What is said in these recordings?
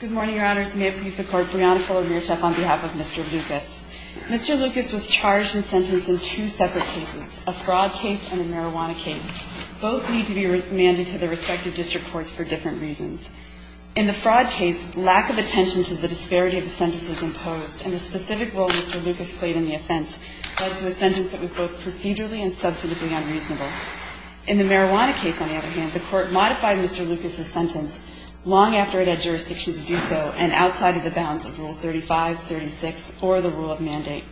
Good morning, Your Honors. May it please the Court, Brianna Fuller-Mierczak on behalf of Mr. Lucas. Mr. Lucas was charged and sentenced in two separate cases, a fraud case and a marijuana case. Both need to be remanded to their respective district courts for different reasons. In the fraud case, lack of attention to the disparity of the sentence was imposed, and the specific role Mr. Lucas played in the offense led to a sentence that was both procedurally and substantively unreasonable. In the marijuana case, on the other hand, the Court modified Mr. Lucas' sentence long after it had jurisdiction to do so and outside of the bounds of Rule 35, 36, or the rule of mandate.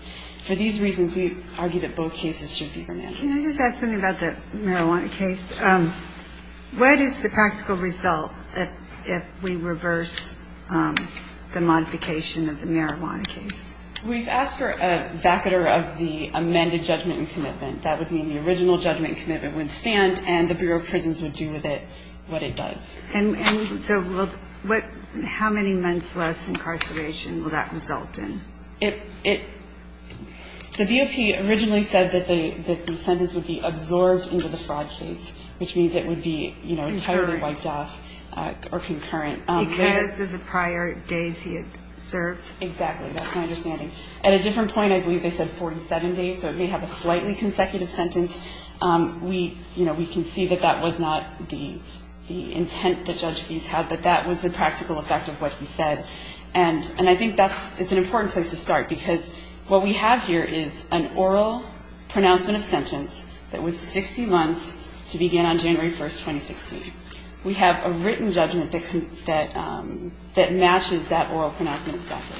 For these reasons, we argue that both cases should be remanded. Can I just ask something about the marijuana case? What is the practical result if we reverse the modification of the marijuana case? We've asked for a vacatur of the amended judgment and commitment. That would mean the original judgment and commitment would stand, and the Bureau of Prisons would do with it what it does. And so how many months less incarceration will that result in? The BOP originally said that the sentence would be absorbed into the fraud case, which means it would be entirely wiped off or concurrent. Because of the prior days he had served? Exactly. That's my understanding. At a different point, I believe they said 47 days, so it may have a slightly consecutive sentence. We, you know, we can see that that was not the intent that Judge Feist had, that that was the practical effect of what he said. And I think that's an important place to start, because what we have here is an oral pronouncement of sentence that was 60 months to begin on January 1, 2016. We have a written judgment that matches that oral pronouncement exactly.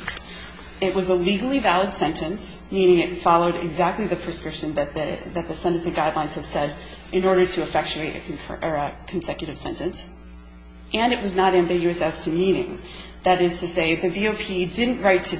It was a legally valid sentence, meaning it followed exactly the prescription that the sentencing guidelines have said in order to effectuate a consecutive sentence, and it was not ambiguous as to meaning. That is to say, the BOP didn't write to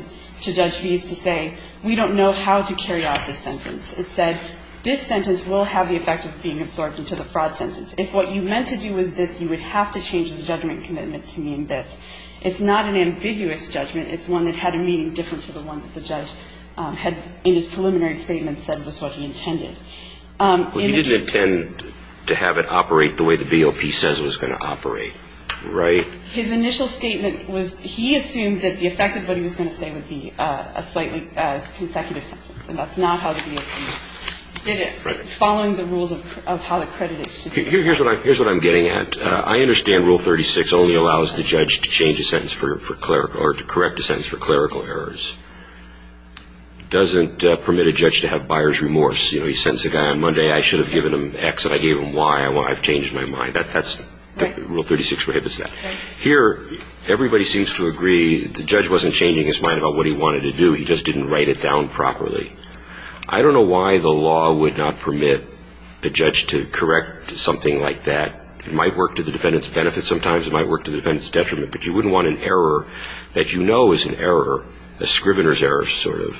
Judge Feist to say, we don't know how to carry out this sentence. It said this sentence will have the effect of being absorbed into the fraud sentence. If what you meant to do was this, you would have to change the judgment commitment to mean this. It's not an ambiguous judgment. It's one that had a meaning different to the one that the judge had in his preliminary statement said was what he intended. He didn't intend to have it operate the way the BOP says it was going to operate, right? His initial statement was he assumed that the effect of what he was going to say would be a slightly consecutive sentence, and that's not how the BOP did it, following the rules of how the credit is to be paid. Here's what I'm getting at. I understand Rule 36 only allows the judge to change a sentence for clerical or to correct a sentence for clerical errors. It doesn't permit a judge to have buyer's remorse. You know, he sends a guy on Monday, I should have given him X and I gave him Y. I've changed my mind. Rule 36 prohibits that. Here, everybody seems to agree the judge wasn't changing his mind about what he wanted to do. He just didn't write it down properly. I don't know why the law would not permit a judge to correct something like that. It might work to the defendant's benefit sometimes. It might work to the defendant's detriment. But you wouldn't want an error that you know is an error, a scrivener's error, sort of,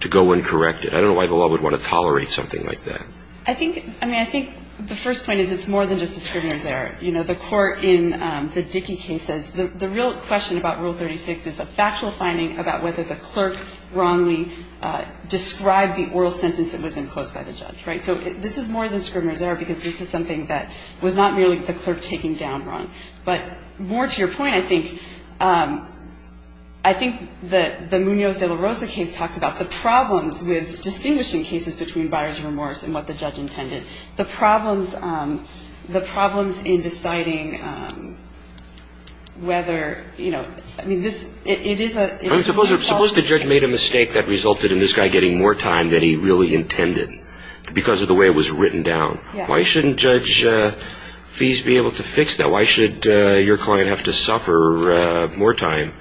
to go and correct it. I don't know why the law would want to tolerate something like that. I think, I mean, I think the first point is it's more than just a scrivener's error. You know, the court in the Dickey case says the real question about Rule 36 is a factual finding about whether the clerk wrongly described the oral sentence that was imposed by the judge, right? So this is more than scrivener's error because this is something that was not merely the clerk taking down wrong. But more to your point, I think, I think that the Munoz de la Rosa case talks about the problems with distinguishing cases between buyer's remorse and what the judge intended. The problems, the problems in deciding whether, you know, I mean, it is a Suppose the judge made a mistake that resulted in this guy getting more time than he really intended because of the way it was written down. Why shouldn't Judge Fies be able to fix that? Why should your client have to suffer more time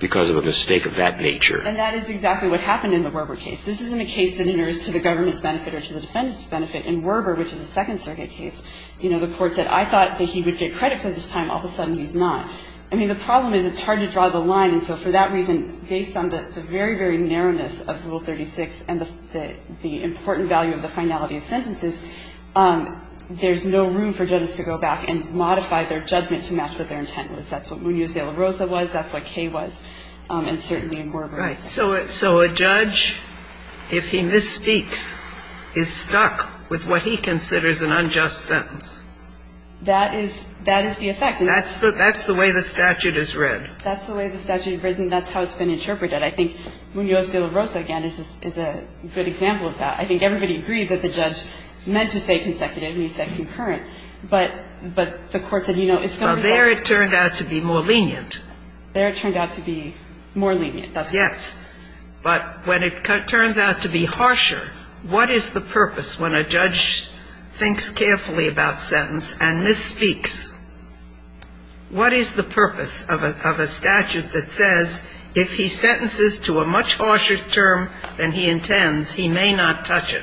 because of a mistake of that nature? And that is exactly what happened in the Werber case. This isn't a case that enters to the government's benefit or to the defendant's benefit. In Werber, which is a Second Circuit case, you know, the court said, I thought that he would get credit for this time. All of a sudden, he's not. I mean, the problem is it's hard to draw the line. And so for that reason, based on the very, very narrowness of Rule 36 and the important value of the finality of sentences, there's no room for judges to go back and modify their judgment to match what their intent was. That's what Munoz de la Rosa was. That's what Kay was. And certainly in Werber. Kagan. Yes. So a judge, if he misspeaks, is stuck with what he considers an unjust sentence. That is the effect. That's the way the statute is read. That's the way the statute is written. That's how it's been interpreted. I think Munoz de la Rosa, again, is a good example of that. I think everybody agreed that the judge meant to say consecutive, and he said concurrent. But the court said, you know, it's going to result. Well, there it turned out to be more lenient. There it turned out to be more lenient. Yes. But when it turns out to be harsher, what is the purpose when a judge thinks carefully about sentence and misspeaks? What is the purpose of a statute that says if he sentences to a much harsher term than he intends, he may not touch it?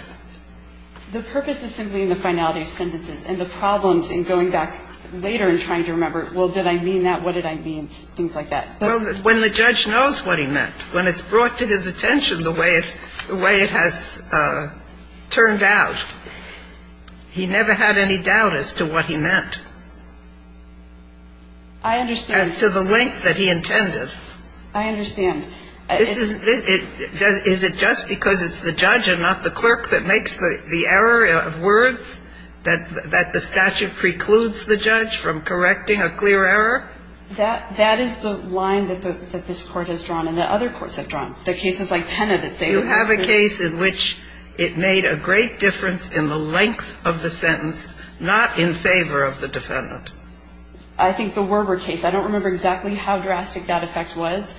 The purpose is simply in the finality of sentences. And the problems in going back later and trying to remember, well, did I mean that? What did I mean? Things like that. Well, when the judge knows what he meant, when it's brought to his attention the way it has turned out, he never had any doubt as to what he meant. I understand. As to the length that he intended. I understand. Is it just because it's the judge and not the clerk that makes the error of words that the statute precludes the judge from correcting a clear error? That is the line that this Court has drawn and that other courts have drawn. There are cases like Pena that say that. You have a case in which it made a great difference in the length of the sentence, not in favor of the defendant. I think the Werber case. I don't remember exactly how drastic that effect was.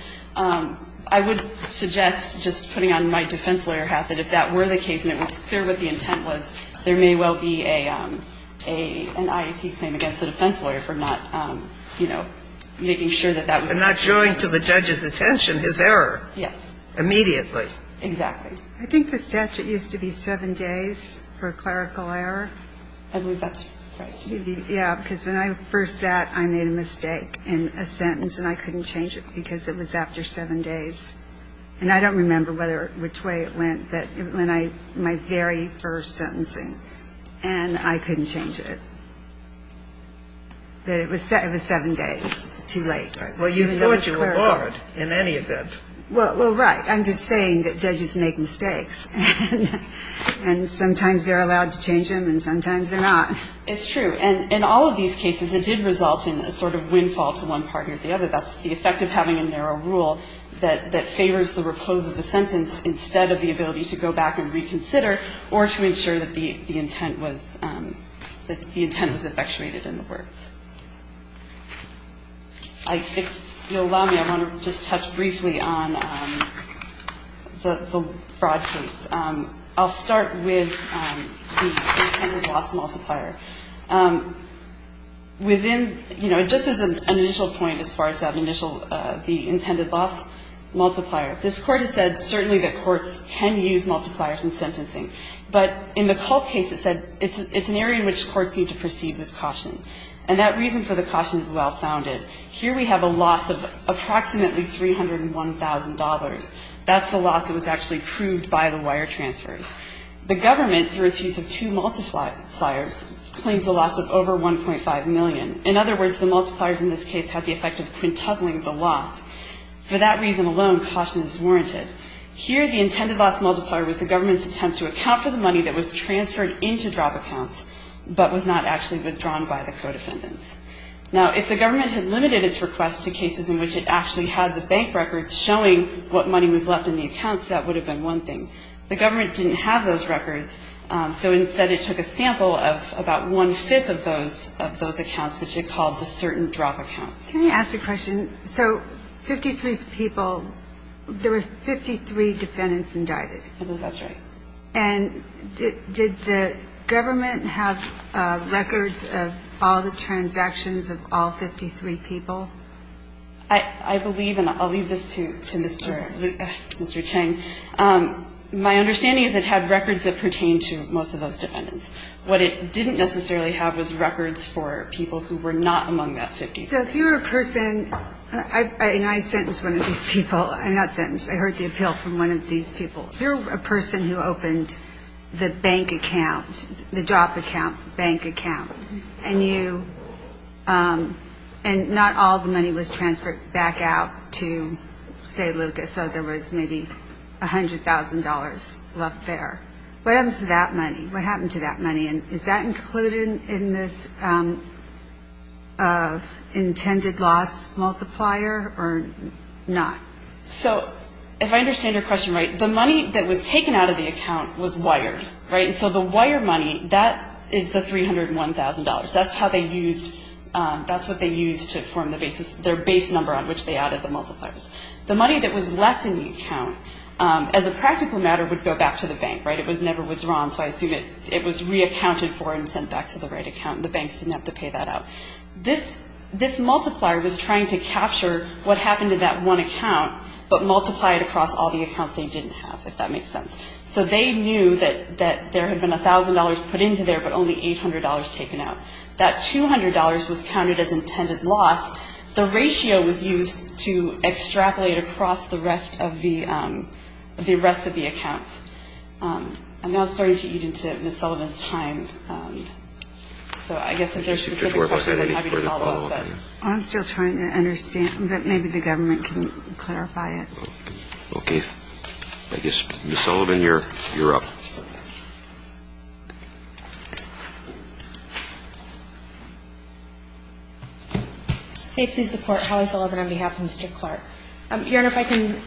I would suggest, just putting on my defense lawyer hat, that if that were the case and it was clear what the intent was, there may well be an IAC claim against a defense lawyer for not, you know, making sure that that was correct. And not showing to the judge's attention his error. Yes. Immediately. Exactly. I think the statute used to be seven days for a clerical error. I believe that's correct. Yeah, because when I first sat, I made a mistake in a sentence, and I couldn't change it because it was after seven days. And I don't remember which way it went, but my very first sentencing, and I couldn't change it. But it was seven days too late. Well, you thought you were barred in any event. Well, right. I'm just saying that judges make mistakes. And sometimes they're allowed to change them, and sometimes they're not. It's true. And in all of these cases, it did result in a sort of windfall to one party or the other. That's the effect of having a narrow rule that favors the repose of the sentence instead of the ability to go back and reconsider or to ensure that the intent was effectuated in the words. If you'll allow me, I want to just touch briefly on the fraud case. I'll start with the intended loss multiplier. Within, you know, just as an initial point as far as that initial, the intended loss multiplier, this Court has said certainly that courts can use multipliers in sentencing. But in the Culp case, it said it's an area in which courts need to proceed with caution. And that reason for the caution is well-founded. Here we have a loss of approximately $301,000. That's the loss that was actually proved by the wire transfers. The government, through its use of two multipliers, claims a loss of over $1.5 million. In other words, the multipliers in this case have the effect of quintupling the loss. For that reason alone, caution is warranted. Here, the intended loss multiplier was the government's attempt to account for the money that was transferred into drop accounts but was not actually withdrawn by the co-defendants. Now, if the government had limited its request to cases in which it actually had the bank records showing what money was left in the accounts, that would have been one thing. The government didn't have those records, so instead it took a sample of about one-fifth of those accounts, which it called the certain drop accounts. Can I ask a question? So 53 people, there were 53 defendants indicted. I believe that's right. And did the government have records of all the transactions of all 53 people? I believe, and I'll leave this to Mr. Chang. My understanding is it had records that pertained to most of those defendants. What it didn't necessarily have was records for people who were not among that 53. So if you're a person, and I sentenced one of these people. I'm not sentenced. I heard the appeal from one of these people. If you're a person who opened the bank account, the drop account, bank account, and not all the money was transferred back out to, say, Lucas, so there was maybe $100,000 left there, what happens to that money? What happened to that money? And is that included in this intended loss multiplier or not? So if I understand your question right, the money that was taken out of the account was wired, right? And so the wire money, that is the $301,000. That's how they used to form their base number on which they added the multipliers. The money that was left in the account, as a practical matter, would go back to the bank, right? It was reaccounted for and sent back to the right account. The banks didn't have to pay that out. This multiplier was trying to capture what happened to that one account but multiply it across all the accounts they didn't have, if that makes sense. So they knew that there had been $1,000 put into there but only $800 taken out. That $200 was counted as intended loss. The ratio was used to extrapolate across the rest of the accounts. I'm now starting to eat into Ms. Sullivan's time. So I guess if there's specific questions, I'd be happy to follow up. I'm still trying to understand. Maybe the government can clarify it. Okay. I guess, Ms. Sullivan, you're up. May it please the Court, Holly Sullivan on behalf of Mr. Clark. Your Honor, if I can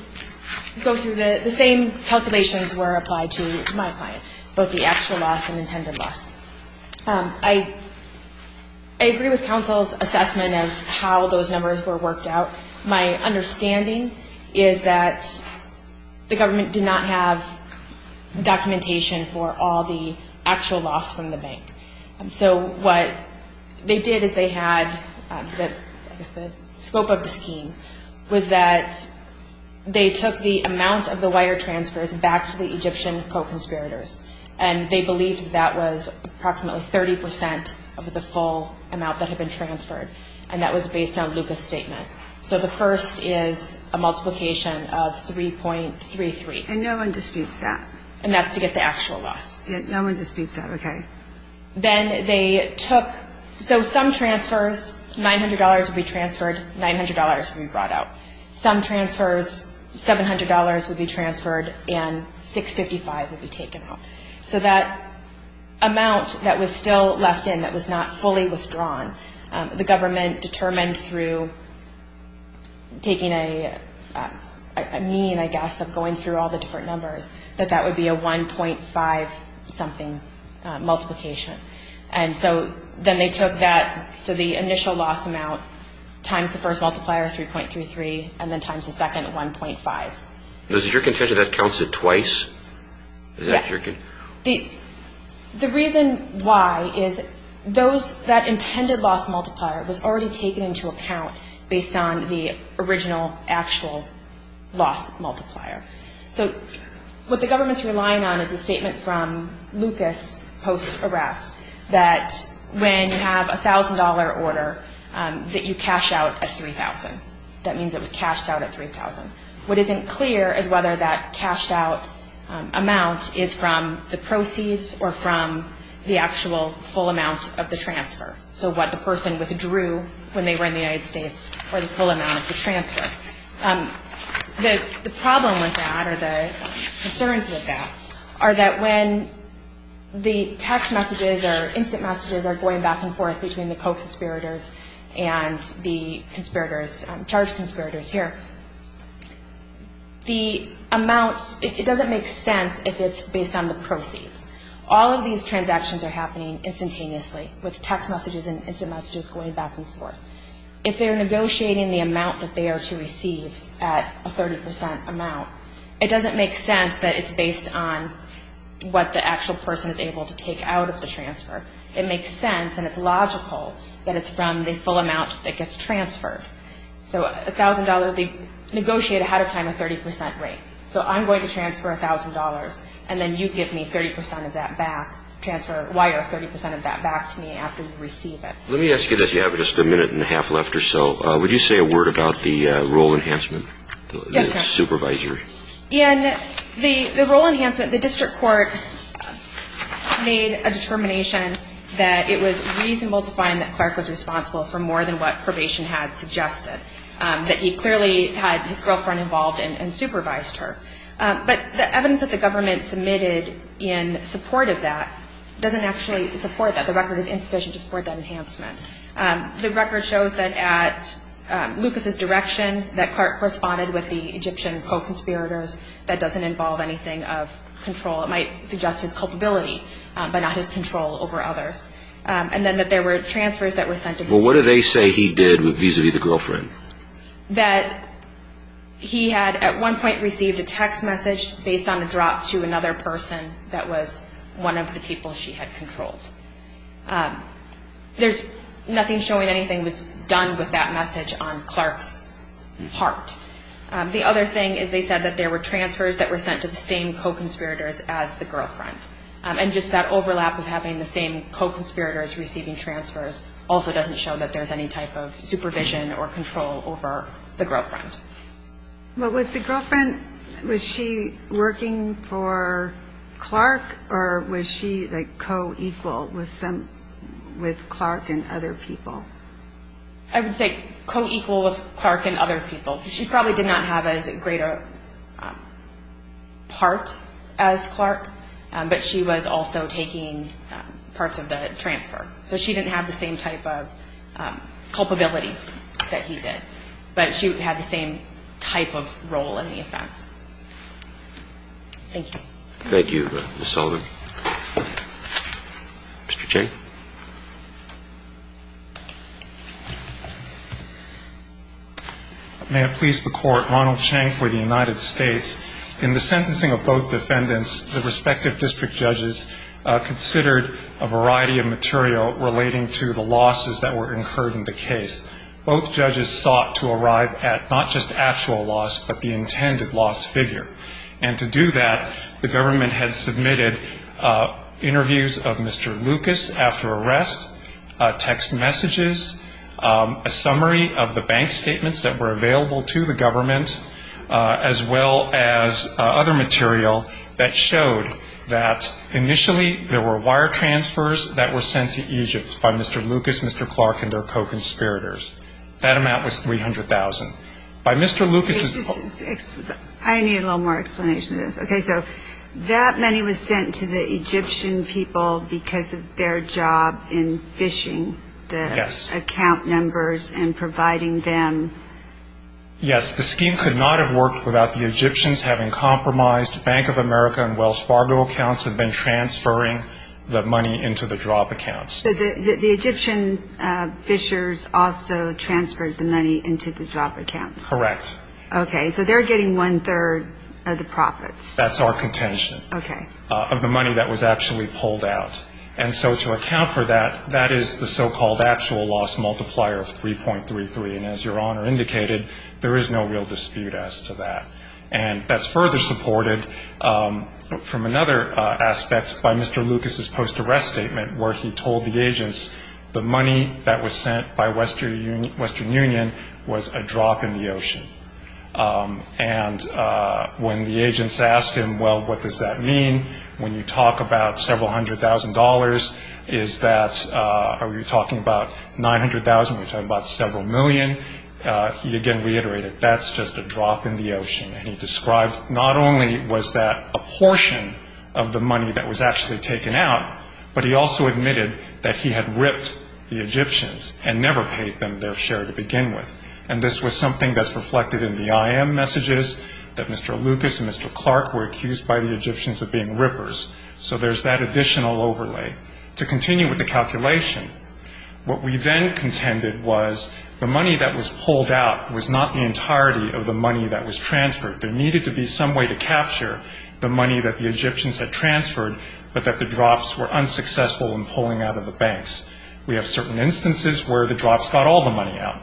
go through. The same calculations were applied to my client, both the actual loss and intended loss. I agree with counsel's assessment of how those numbers were worked out. My understanding is that the government did not have documentation for all the actual loss from the bank. So what they did is they had, I guess the scope of the scheme, was that they took the amount of the wire transfers back to the Egyptian co-conspirators, and they believed that was approximately 30 percent of the full amount that had been transferred, and that was based on Lucas's statement. So the first is a multiplication of 3.33. And no one disputes that. And that's to get the actual loss. No one disputes that. Okay. Then they took, so some transfers, $900 would be transferred, $900 would be brought out. Some transfers, $700 would be transferred, and $655 would be taken out. So that amount that was still left in, that was not fully withdrawn, the government determined through taking a mean, I guess, of going through all the different numbers, that that would be a 1.5-something multiplication. And so then they took that, so the initial loss amount times the first multiplier, 3.33, and then times the second, 1.5. Is it your contention that counts it twice? Yes. The reason why is that intended loss multiplier was already taken into account based on the original actual loss multiplier. So what the government's relying on is a statement from Lucas post-arrest that when you have a $1,000 order, that you cash out a $3,000. That means it was cashed out at $3,000. What isn't clear is whether that cashed-out amount is from the proceeds or from the actual full amount of the transfer, so what the person withdrew when they were in the United States or the full amount of the transfer. The problem with that, or the concerns with that, are that when the text messages or instant messages are going back and forth between the co-conspirators and the charged conspirators here, it doesn't make sense if it's based on the proceeds. All of these transactions are happening instantaneously with text messages and instant messages going back and forth. If they're negotiating the amount that they are to receive at a 30% amount, it doesn't make sense that it's based on what the actual person is able to take out of the transfer. It makes sense, and it's logical, that it's from the full amount that gets transferred. So $1,000 will be negotiated ahead of time at a 30% rate. So I'm going to transfer $1,000, and then you give me 30% of that back, wire 30% of that back to me after we receive it. Let me ask you this. You have just a minute and a half left or so. Would you say a word about the role enhancement? Yes, Your Honor. The supervisory. In the role enhancement, the district court made a determination that it was reasonable to find that Clark was responsible for more than what probation had suggested, that he clearly had his girlfriend involved and supervised her. But the evidence that the government submitted in support of that doesn't actually support that. The record is insufficient to support that enhancement. The record shows that at Lucas's direction that Clark corresponded with the Egyptian co-conspirators. That doesn't involve anything of control. It might suggest his culpability, but not his control over others. And then that there were transfers that were sent. Well, what do they say he did vis-a-vis the girlfriend? That he had at one point received a text message based on a drop to another person that was one of the people she had controlled. There's nothing showing anything was done with that message on Clark's part. The other thing is they said that there were transfers that were sent to the same co-conspirators as the girlfriend. And just that overlap of having the same co-conspirators receiving transfers also doesn't show that there's any type of supervision or control over the girlfriend. Well, was the girlfriend, was she working for Clark or was she like co-equal with Clark and other people? I would say co-equal with Clark and other people. She probably did not have as great a part as Clark, but she was also taking parts of the transfer. So she didn't have the same type of culpability that he did. But she had the same type of role in the offense. Thank you. Thank you, Ms. Sullivan. Mr. Chang. May it please the Court, Ronald Chang for the United States. In the sentencing of both defendants, the respective district judges considered a variety of material relating to the losses that were incurred in the case. Both judges sought to arrive at not just actual loss, but the intended loss figure. And to do that, the government had submitted interviews of Mr. Lucas after arrest, text messages, a summary of the bank statements that were available to the government, as well as other material that showed that That amount was $300,000. I need a little more explanation of this. Okay. So that money was sent to the Egyptian people because of their job in phishing the account numbers and providing them. Yes. The scheme could not have worked without the Egyptians having compromised Bank of America and Wells Fargo accounts and then transferring the money into the drop accounts. So the Egyptian phishers also transferred the money into the drop accounts. Correct. Okay. So they're getting one-third of the profits. That's our contention. Okay. Of the money that was actually pulled out. And so to account for that, that is the so-called actual loss multiplier of 3.33. And as Your Honor indicated, there is no real dispute as to that. And that's further supported from another aspect by Mr. Lucas's post-arrest statement, where he told the agents the money that was sent by Western Union was a drop in the ocean. And when the agents asked him, well, what does that mean, when you talk about several hundred thousand dollars, is that are we talking about 900,000, we're talking about several million, he again reiterated, that's just a drop in the ocean. And he described not only was that a portion of the money that was actually taken out, but he also admitted that he had ripped the Egyptians and never paid them their share to begin with. And this was something that's reflected in the IM messages, that Mr. Lucas and Mr. Clark were accused by the Egyptians of being rippers. So there's that additional overlay. To continue with the calculation, what we then contended was the money that was pulled out was not the entirety of the money that was transferred. There needed to be some way to capture the money that the Egyptians had transferred, but that the drops were unsuccessful in pulling out of the banks. We have certain instances where the drops got all the money out.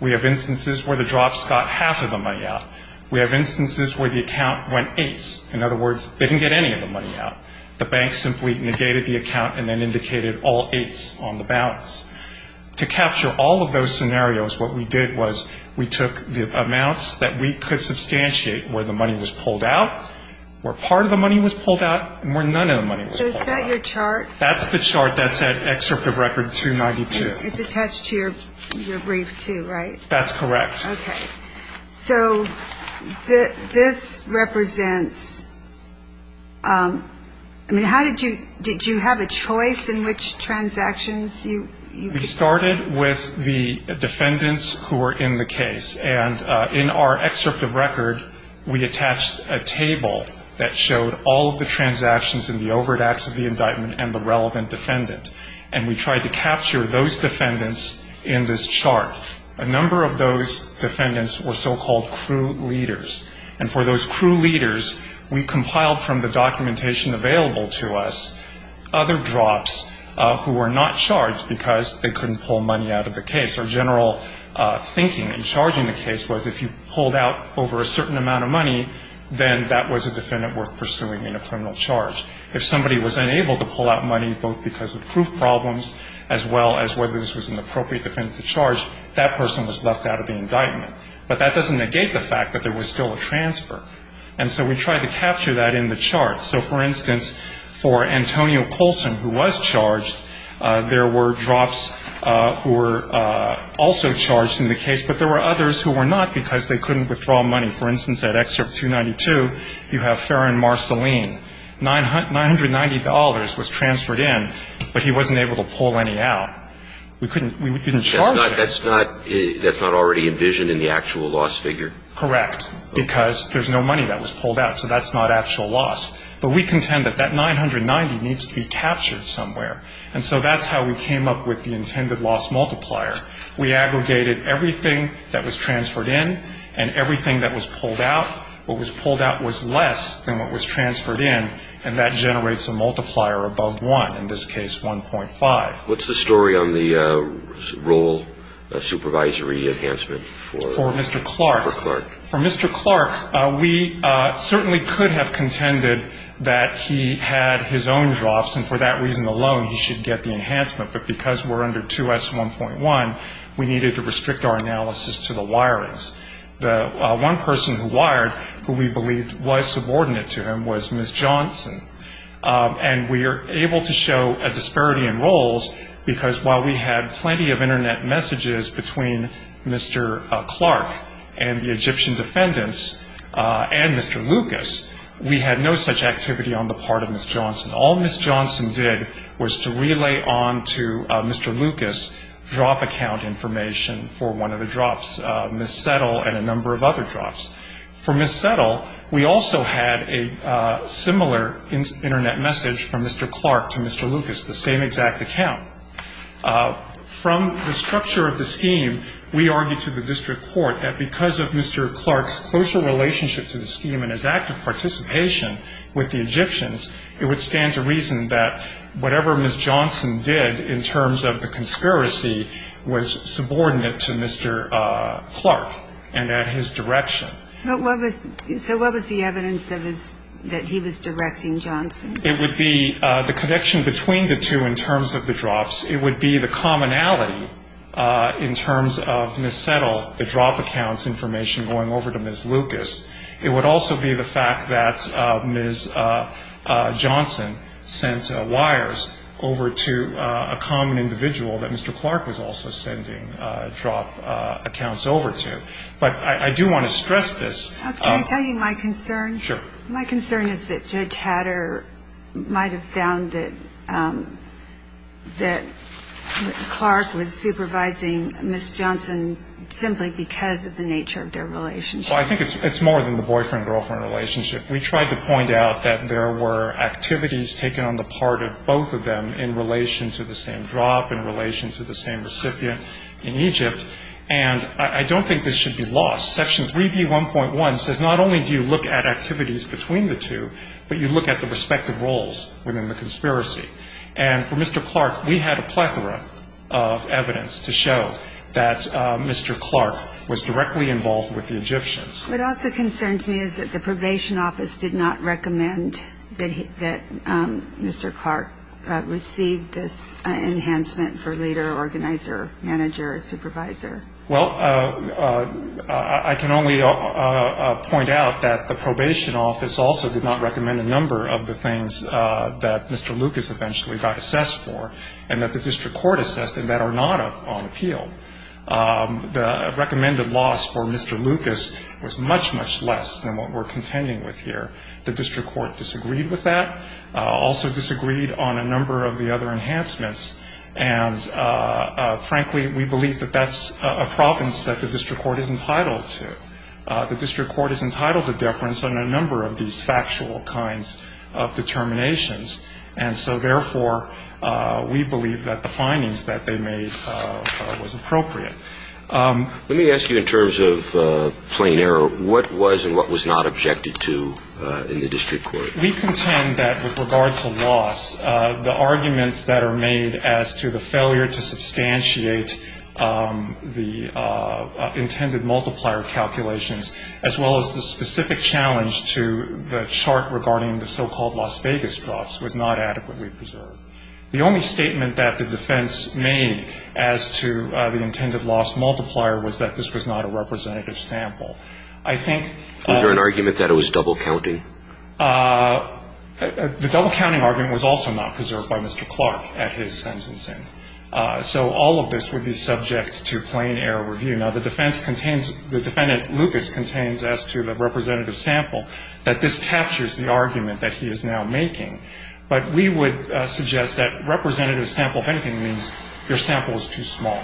We have instances where the drops got half of the money out. We have instances where the account went eighths. In other words, they didn't get any of the money out. The banks simply negated the account and then indicated all eighths on the balance. To capture all of those scenarios, what we did was we took the amounts that we could substantiate where the money was pulled out, where part of the money was pulled out, and where none of the money was pulled out. So is that your chart? That's the chart that's at Excerpt of Record 292. It's attached to your brief too, right? That's correct. Okay. So this represents ‑‑ I mean, how did you ‑‑ did you have a choice in which transactions you ‑‑ We started with the defendants who were in the case. And in our excerpt of record, we attached a table that showed all of the transactions in the overt acts of the indictment and the relevant defendant. And we tried to capture those defendants in this chart. A number of those defendants were so‑called crew leaders. And for those crew leaders, we compiled from the documentation available to us other drops who were not charged because they couldn't pull money out of the case. Our general thinking in charging the case was if you pulled out over a certain amount of money, then that was a defendant worth pursuing in a criminal charge. If somebody was unable to pull out money both because of proof problems as well as whether this was an appropriate defendant to charge, that person was left out of the indictment. But that doesn't negate the fact that there was still a transfer. And so we tried to capture that in the chart. So, for instance, for Antonio Colson, who was charged, there were drops who were also charged in the case, but there were others who were not because they couldn't withdraw money. For instance, at Excerpt 292, you have Farron Marceline. $990 was transferred in, but he wasn't able to pull any out. We couldn't charge him. That's not already envisioned in the actual loss figure? Correct. Because there's no money that was pulled out, so that's not actual loss. But we contend that that $990 needs to be captured somewhere. And so that's how we came up with the intended loss multiplier. We aggregated everything that was transferred in and everything that was pulled out. What was pulled out was less than what was transferred in, and that generates a multiplier above 1, in this case, 1.5. What's the story on the role of supervisory enhancement for Clark? For Mr. Clark, we certainly could have contended that he had his own drops, and for that reason alone he should get the enhancement. But because we're under 2S1.1, we needed to restrict our analysis to the wirings. The one person who wired, who we believed was subordinate to him, was Ms. Johnson. And we were able to show a disparity in roles because while we had plenty of Internet messages between Mr. Clark and the Egyptian defendants and Mr. Lucas, we had no such activity on the part of Ms. Johnson. All Ms. Johnson did was to relay on to Mr. Lucas drop account information for one of the drops, Ms. Settle and a number of other drops. For Ms. Settle, we also had a similar Internet message from Mr. Clark to Mr. Lucas, the same exact account. From the structure of the scheme, we argued to the district court that because of Mr. Clark's closer relationship to the scheme and his active participation with the Egyptians, it would stand to reason that whatever Ms. Johnson did in terms of the conspiracy was subordinate to Mr. Clark and at his direction. So what was the evidence that he was directing Johnson? It would be the connection between the two in terms of the drops. It would be the commonality in terms of Ms. Settle, the drop accounts information going over to Ms. Lucas. It would also be the fact that Ms. Johnson sent wires over to a common individual that Mr. Clark was also sending drop accounts over to. But I do want to stress this. Can I tell you my concern? Sure. My concern is that Judge Hatter might have found that Clark was supervising Ms. Johnson simply because of the nature of their relationship. Well, I think it's more than the boyfriend-girlfriend relationship. We tried to point out that there were activities taken on the part of both of them in relation to the same drop, in relation to the same recipient in Egypt, and I don't think this should be lost. Section 3B1.1 says not only do you look at activities between the two, but you look at the respective roles within the conspiracy. And for Mr. Clark, we had a plethora of evidence to show that Mr. Clark was directly involved with the Egyptians. What also concerns me is that the probation office did not recommend that Mr. Clark receive this enhancement for leader, organizer, manager, supervisor. Well, I can only point out that the probation office also did not recommend a number of the things that Mr. Lucas eventually got assessed for and that the district court assessed and that are not on appeal. The recommended loss for Mr. Lucas was much, much less than what we're contending with here. The district court disagreed with that, also disagreed on a number of the other enhancements, and, frankly, we believe that that's a province that the district court is entitled to. The district court is entitled to deference on a number of these factual kinds of determinations, and so, therefore, we believe that the findings that they made was appropriate. Let me ask you in terms of plain error, what was and what was not objected to in the district court? We contend that with regard to loss, the arguments that are made as to the failure to substantiate the intended multiplier calculations as well as the specific challenge to the chart regarding the so-called Las Vegas drops was not adequately preserved. The only statement that the defense made as to the intended loss multiplier was that this was not a representative sample. I think Was there an argument that it was double-counting? The double-counting argument was also not preserved by Mr. Clark at his sentencing. So all of this would be subject to plain error review. Now, the defense contains the defendant Lucas contains as to the representative sample that this captures the argument that he is now making. But we would suggest that representative sample, if anything, means your sample is too small.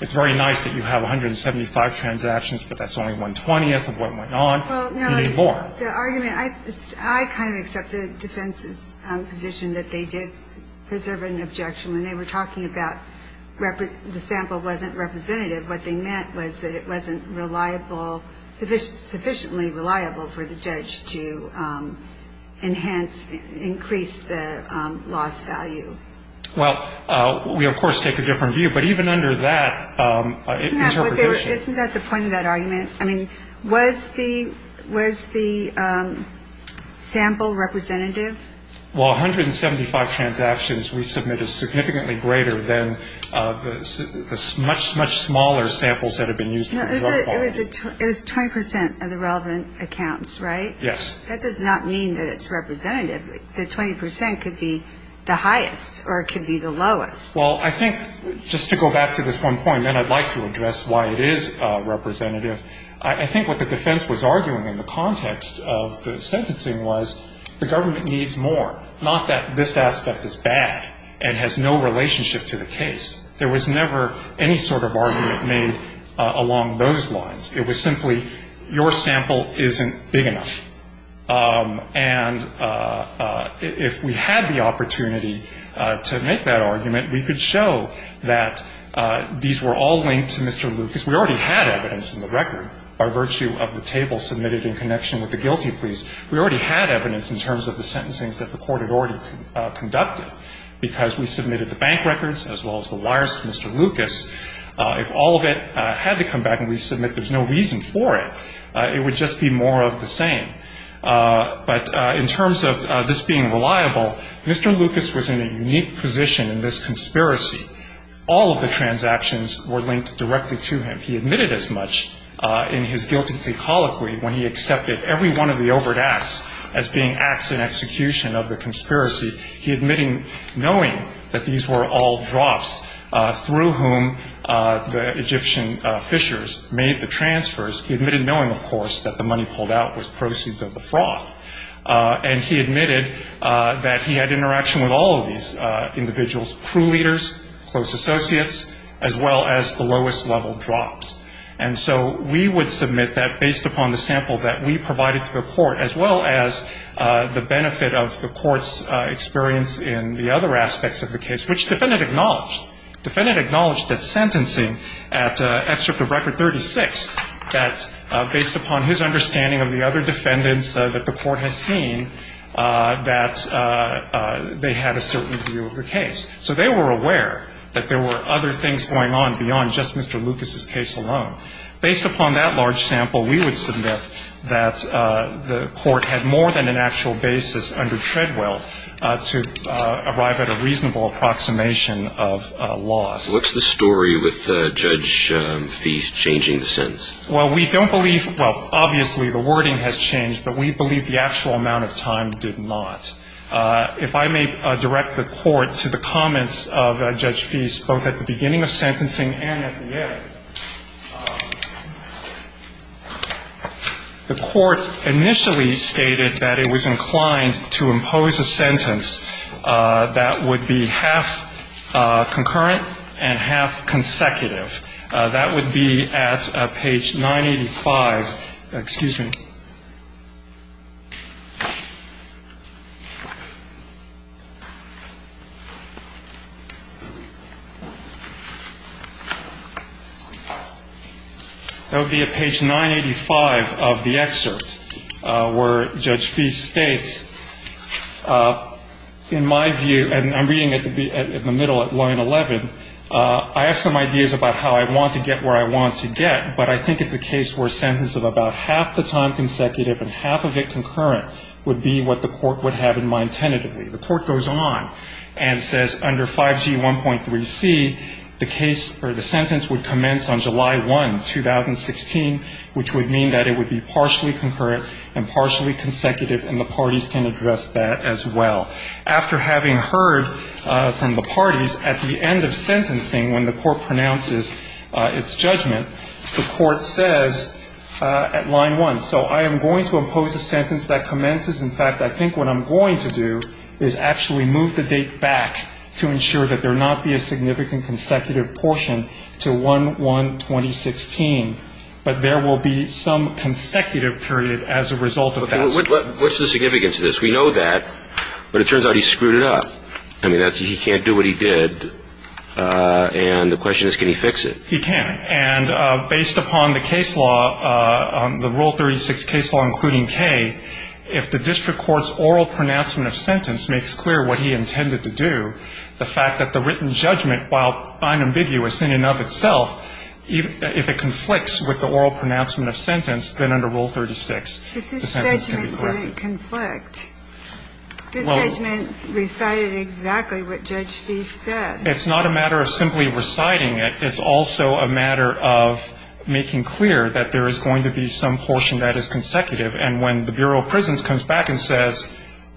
It's very nice that you have 175 transactions, but that's only one-twentieth of what went on. You need more. The argument, I kind of accept the defense's position that they did preserve an objection when they were talking about the sample wasn't representative. What they meant was that it wasn't reliable, sufficiently reliable for the judge to enhance, increase the loss value. Well, we, of course, take a different view. But even under that interpretation. Isn't that the point of that argument? I mean, was the sample representative? Well, 175 transactions we submitted is significantly greater than the much, much smaller samples that have been used for drug quality. It was 20 percent of the relevant accounts, right? Yes. That does not mean that it's representative. The 20 percent could be the highest or it could be the lowest. Well, I think just to go back to this one point, then I'd like to address why it is representative. I think what the defense was arguing in the context of the sentencing was the government needs more, not that this aspect is bad and has no relationship to the case. There was never any sort of argument made along those lines. It was simply your sample isn't big enough. And if we had the opportunity to make that argument, we could show that these were all linked to Mr. Lucas. We already had evidence in the record by virtue of the table submitted in connection with the guilty pleas. We already had evidence in terms of the sentencing that the court had already conducted because we submitted the bank records as well as the wires to Mr. Lucas. If all of it had to come back and we submit there's no reason for it, it would just be more of the same. But in terms of this being reliable, Mr. Lucas was in a unique position in this conspiracy. All of the transactions were linked directly to him. He admitted as much in his guilty plea colloquy when he accepted every one of the overt acts as being acts in execution of the conspiracy. He admitted knowing that these were all drops through whom the Egyptian fishers made the transfers. He admitted knowing, of course, that the money pulled out was proceeds of the fraud. And he admitted that he had interaction with all of these individuals, crew leaders, close associates, as well as the lowest level drops. And so we would submit that based upon the sample that we provided to the court, as well as the benefit of the court's experience in the other aspects of the case, which defendant acknowledged. Defendant acknowledged that sentencing at Excerpt of Record 36, that based upon his understanding of the other defendants that the court has seen, that they had a certain view of the case. So they were aware that there were other things going on beyond just Mr. Lucas's case alone. Based upon that large sample, we would submit that the court had more than an actual basis under Treadwell to arrive at a reasonable approximation of loss. What's the story with Judge Feist changing the sentence? Well, we don't believe – well, obviously the wording has changed, but we believe the actual amount of time did not. If I may direct the Court to the comments of Judge Feist, both at the beginning of sentencing and at the end. The Court initially stated that it was inclined to impose a sentence that would be half concurrent and half consecutive. That would be at page 985. Excuse me. That would be at page 985 of the excerpt, where Judge Feist states, in my view, and I'm reading it in the middle at line 11, I have some ideas about how I want to get where I want to get, but I think it's a case where a sentence of about half the time consecutive and half the time consecutive would be appropriate. The Court goes on and says under 5G1.3c, the case or the sentence would commence on July 1, 2016, which would mean that it would be partially concurrent and partially consecutive, and the parties can address that as well. After having heard from the parties, at the end of sentencing, when the Court pronounces its judgment, the Court says at line 1, so I am going to impose a sentence that commences. In fact, I think what I'm going to do is actually move the date back to ensure that there will not be a significant consecutive portion to 1-1-2016, but there will be some consecutive period as a result of that. What's the significance of this? We know that, but it turns out he screwed it up. I mean, he can't do what he did, and the question is can he fix it? He can. And based upon the case law, the Rule 36 case law including K, if the district court's oral pronouncement of sentence makes clear what he intended to do, the fact that the written judgment, while unambiguous in and of itself, if it conflicts with the oral pronouncement of sentence, then under Rule 36 the sentence can be corrected. But this judgment didn't conflict. This judgment recited exactly what Judge Fee said. It's not a matter of simply reciting it. It's also a matter of making clear that there is going to be some portion that is consecutive. And when the Bureau of Prisons comes back and says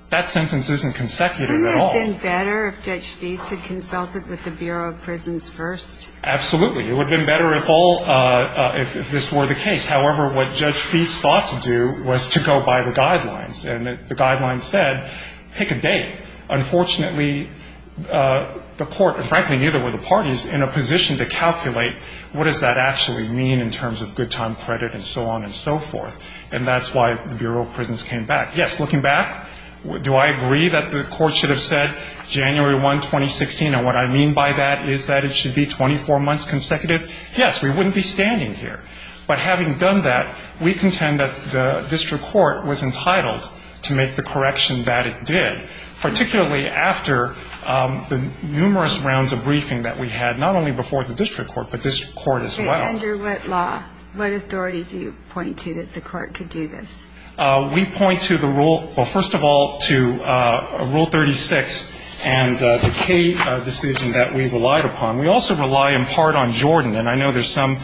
that sentence isn't consecutive at all. Wouldn't it have been better if Judge Fee had consulted with the Bureau of Prisons first? Absolutely. It would have been better if all of this were the case. However, what Judge Fee sought to do was to go by the guidelines. And the guidelines said pick a date. Unfortunately, the court, and frankly neither were the parties, in a position to calculate what does that actually mean in terms of good time credit and so on and so forth. And that's why the Bureau of Prisons came back. Yes, looking back, do I agree that the court should have said January 1, 2016, and what I mean by that is that it should be 24 months consecutive? Yes, we wouldn't be standing here. But having done that, we contend that the district court was entitled to make the correction that it did, particularly after the numerous rounds of briefing that we had, not only before the district court, but this Court as well. Okay. Under what law, what authority do you point to that the court could do this? We point to the rule, well, first of all, to Rule 36 and the K decision that we relied upon. We also rely in part on Jordan. And I know there's some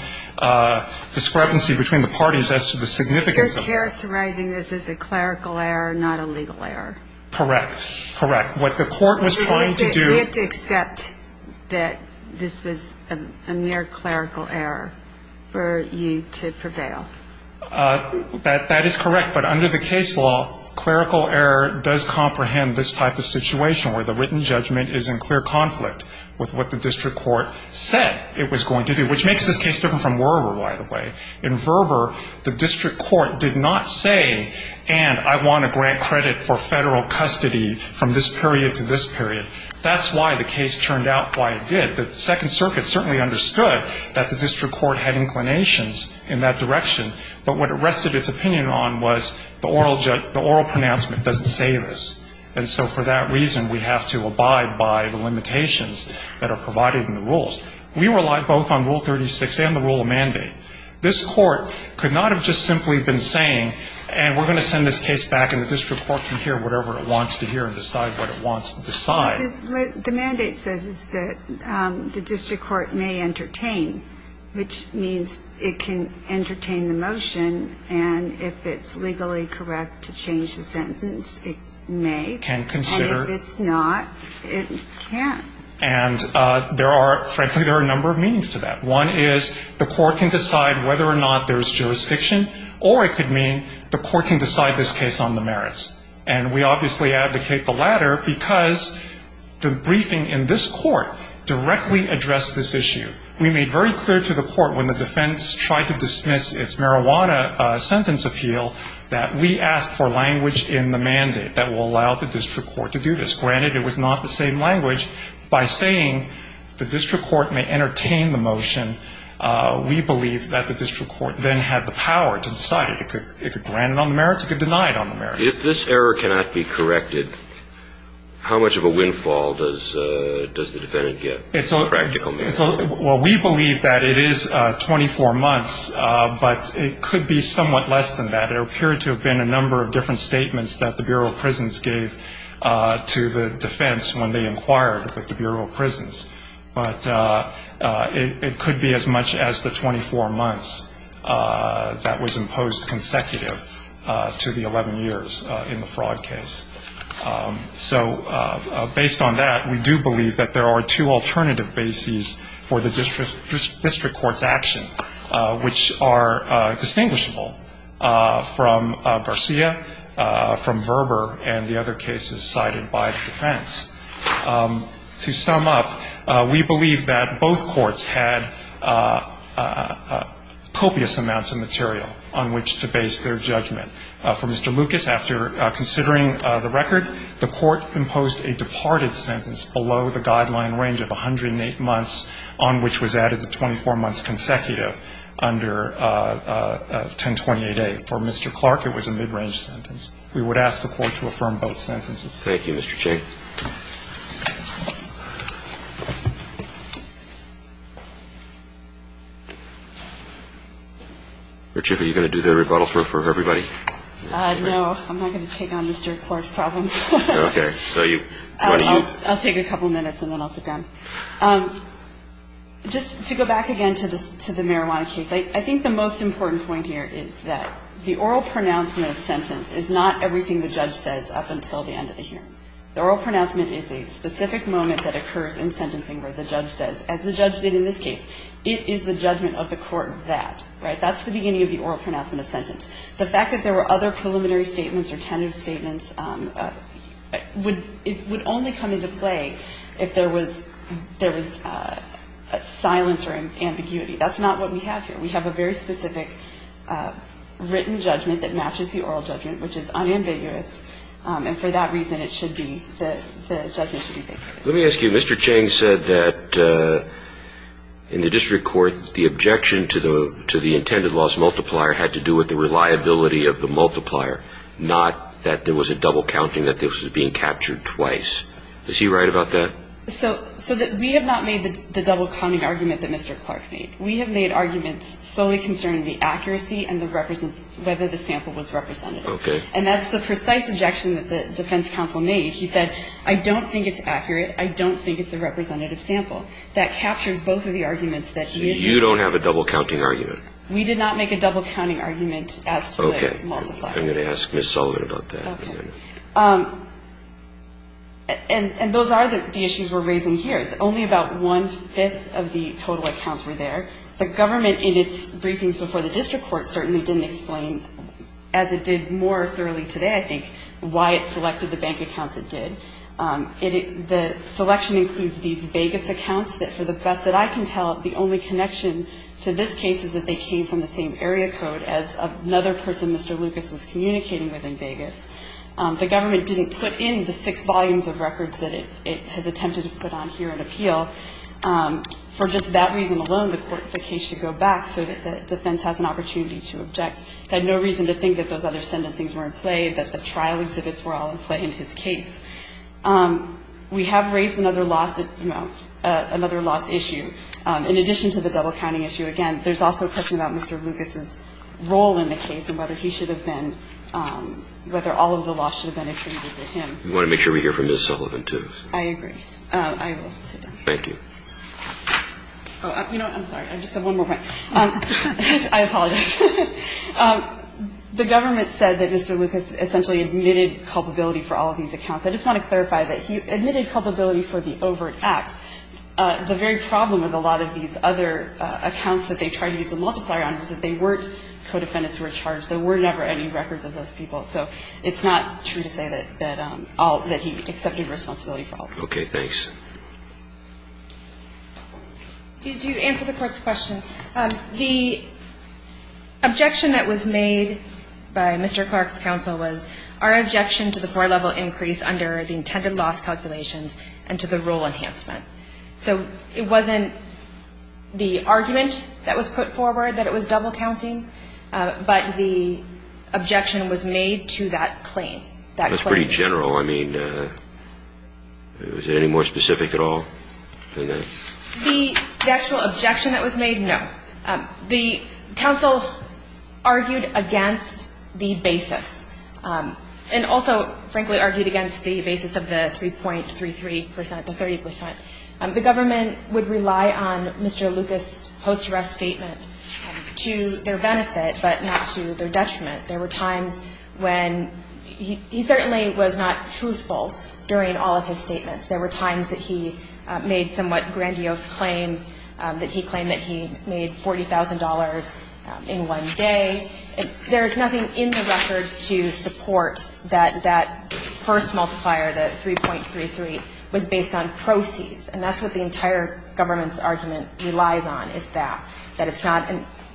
discrepancy between the parties as to the significance of it. You're characterizing this as a clerical error, not a legal error. Correct. Correct. What the court was trying to do. You have to accept that this was a mere clerical error for you to prevail. That is correct. But under the case law, clerical error does comprehend this type of situation where the written judgment is in clear conflict with what the district court said it was going to do, which makes this case different from Werber, by the way. In Werber, the district court did not say, and I want to grant credit for federal custody from this period to this period. That's why the case turned out why it did. The Second Circuit certainly understood that the district court had inclinations in that direction, but what it rested its opinion on was the oral pronouncement doesn't say this. And so for that reason, we have to abide by the limitations that are provided We relied both on Rule 36 and the rule of mandate. This court could not have just simply been saying, and we're going to send this case back and the district court can hear whatever it wants to hear and decide what it wants to decide. The mandate says is that the district court may entertain, which means it can entertain the motion, and if it's legally correct to change the sentence, it may. Can consider. And if it's not, it can't. And there are, frankly, there are a number of meanings to that. One is the court can decide whether or not there's jurisdiction or it could mean the court can decide this case on the merits. And we obviously advocate the latter because the briefing in this court directly addressed this issue. We made very clear to the court when the defense tried to dismiss its marijuana sentence appeal that we asked for language in the mandate that will allow the district court to do this. Granted, it was not the same language. By saying the district court may entertain the motion, we believe that the district court then had the power to decide. It could grant it on the merits. It could deny it on the merits. If this error cannot be corrected, how much of a windfall does the defendant get? Practical merits. Well, we believe that it is 24 months, but it could be somewhat less than that. We believe that there are two alternative bases for the district court's action, which are from Garcia, from Verber, and the other cases cited by the defense. To sum up, we believe that both courts had copious amounts of material on which to base their judgment. For Mr. Lucas, after considering the record, the court imposed a departed sentence below the guideline range of 108 months on which was added the 24 months consecutive under 1028A. For Mr. Clark, it was a mid-range sentence. We would ask the court to affirm both sentences. Thank you, Mr. Chaik. Richard, are you going to do the rebuttal for everybody? No. I'm not going to take on Mr. Clark's problems. Okay. I'll take a couple minutes, and then I'll sit down. Just to go back again to the marijuana case, I think the most important point here is that the oral pronouncement of sentence is not everything the judge says up until the end of the hearing. The oral pronouncement is a specific moment that occurs in sentencing where the judge says, as the judge did in this case, it is the judgment of the court that, right? That's the beginning of the oral pronouncement of sentence. The fact that there were other preliminary statements or tentative statements would only come into play if there was silence or ambiguity. That's not what we have here. We have a very specific written judgment that matches the oral judgment, which is unambiguous, and for that reason, it should be the judgment. Let me ask you. Mr. Chang said that in the district court, the objection to the intended loss multiplier had to do with the reliability of the multiplier, not that there was a double counting that this was being captured twice. Is he right about that? So we have not made the double counting argument that Mr. Clark made. We have made arguments solely concerning the accuracy and whether the sample was representative. Okay. And that's the precise objection that the defense counsel made. He said, I don't think it's accurate. I don't think it's a representative sample. That captures both of the arguments. You don't have a double counting argument. We did not make a double counting argument as to the multiplier. Okay. I'm going to ask Ms. Sullivan about that in a minute. Okay. And those are the issues we're raising here. Only about one-fifth of the total accounts were there. The government in its briefings before the district court certainly didn't explain, as it did more thoroughly today, I think, why it selected the bank accounts it did. The selection includes these vaguest accounts that, for the best that I can tell, the only connection to this case is that they came from the same area code as another person Mr. Lucas was communicating with in Vegas. The government didn't put in the six volumes of records that it has attempted to put on here in appeal. For just that reason alone, the case should go back so that the defense has an opportunity to object. It had no reason to think that those other sentencings were in play, that the trial exhibits were all in play in his case. We have raised another loss issue. In addition to the double-counting issue, again, there's also a question about Mr. Lucas's role in the case and whether he should have been – whether all of the loss should have been attributed to him. We want to make sure we hear from Ms. Sullivan, too. I agree. I will sit down. Thank you. I'm sorry. I just have one more point. I apologize. The government said that Mr. Lucas essentially admitted culpability for all of these accounts. I just want to clarify that he admitted culpability for the overt acts. The very problem with a lot of these other accounts that they tried to use the multiplier on was that they weren't co-defendants who were charged. There were never any records of those people. So it's not true to say that all – that he accepted responsibility for all of them. Okay. Thanks. To answer the Court's question, the objection that was made by Mr. Clark's counsel was our objection to the four-level increase under the intended loss calculations and to the rule enhancement. So it wasn't the argument that was put forward that it was double counting, but the objection was made to that claim. That claim. That's pretty general. I mean, is it any more specific at all than that? The actual objection that was made, no. The counsel argued against the basis and also, frankly, argued against the basis of the 3.33 percent, the 30 percent. The government would rely on Mr. Lucas' post-arrest statement to their benefit but not to their detriment. There were times when he certainly was not truthful during all of his statements. There were times that he made somewhat grandiose claims, that he claimed that he made $40,000 in one day. There is nothing in the record to support that that first multiplier, the 3.33, was based on proceeds. And that's what the entire government's argument relies on is that, that it's not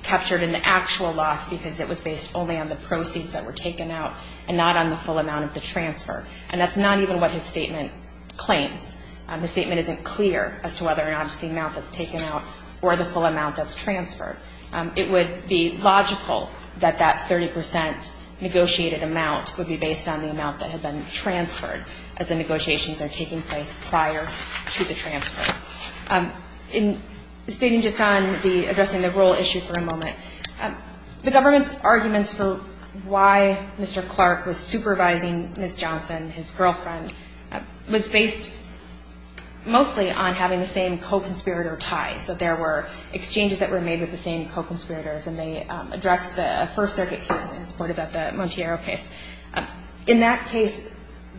captured in the actual loss because it was based only on the proceeds that were taken out and not on the full amount of the transfer. And that's not even what his statement claims. His statement isn't clear as to whether or not it's the amount that's taken out or the full amount that's transferred. It would be logical that that 30 percent negotiated amount would be based on the amount that had been transferred as the negotiations are taking place prior to the transfer. In stating just on the addressing the rule issue for a moment, the government's arguments for why Mr. Clark was supervising Ms. Johnson, his girlfriend, was based mostly on having the same co-conspirator ties, that there were exchanges that were made with the same co-conspirators and they addressed the First Circuit case in support of the Monteiro case. In that case,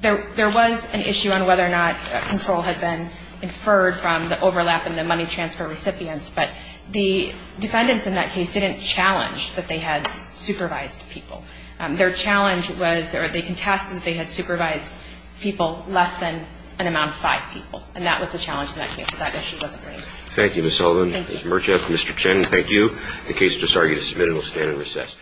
there was an issue on whether or not control had been inferred from the overlap in the money transfer recipients, but the defendants in that case didn't challenge that they had supervised people. Their challenge was, or they contested, they had supervised people less than an amount of five people. And that was the challenge in that case. That issue wasn't raised. Thank you, Ms. Sullivan. Thank you. Ms. Murcha, Mr. Chen, thank you. The case just argued is submitted. We'll stand and recess.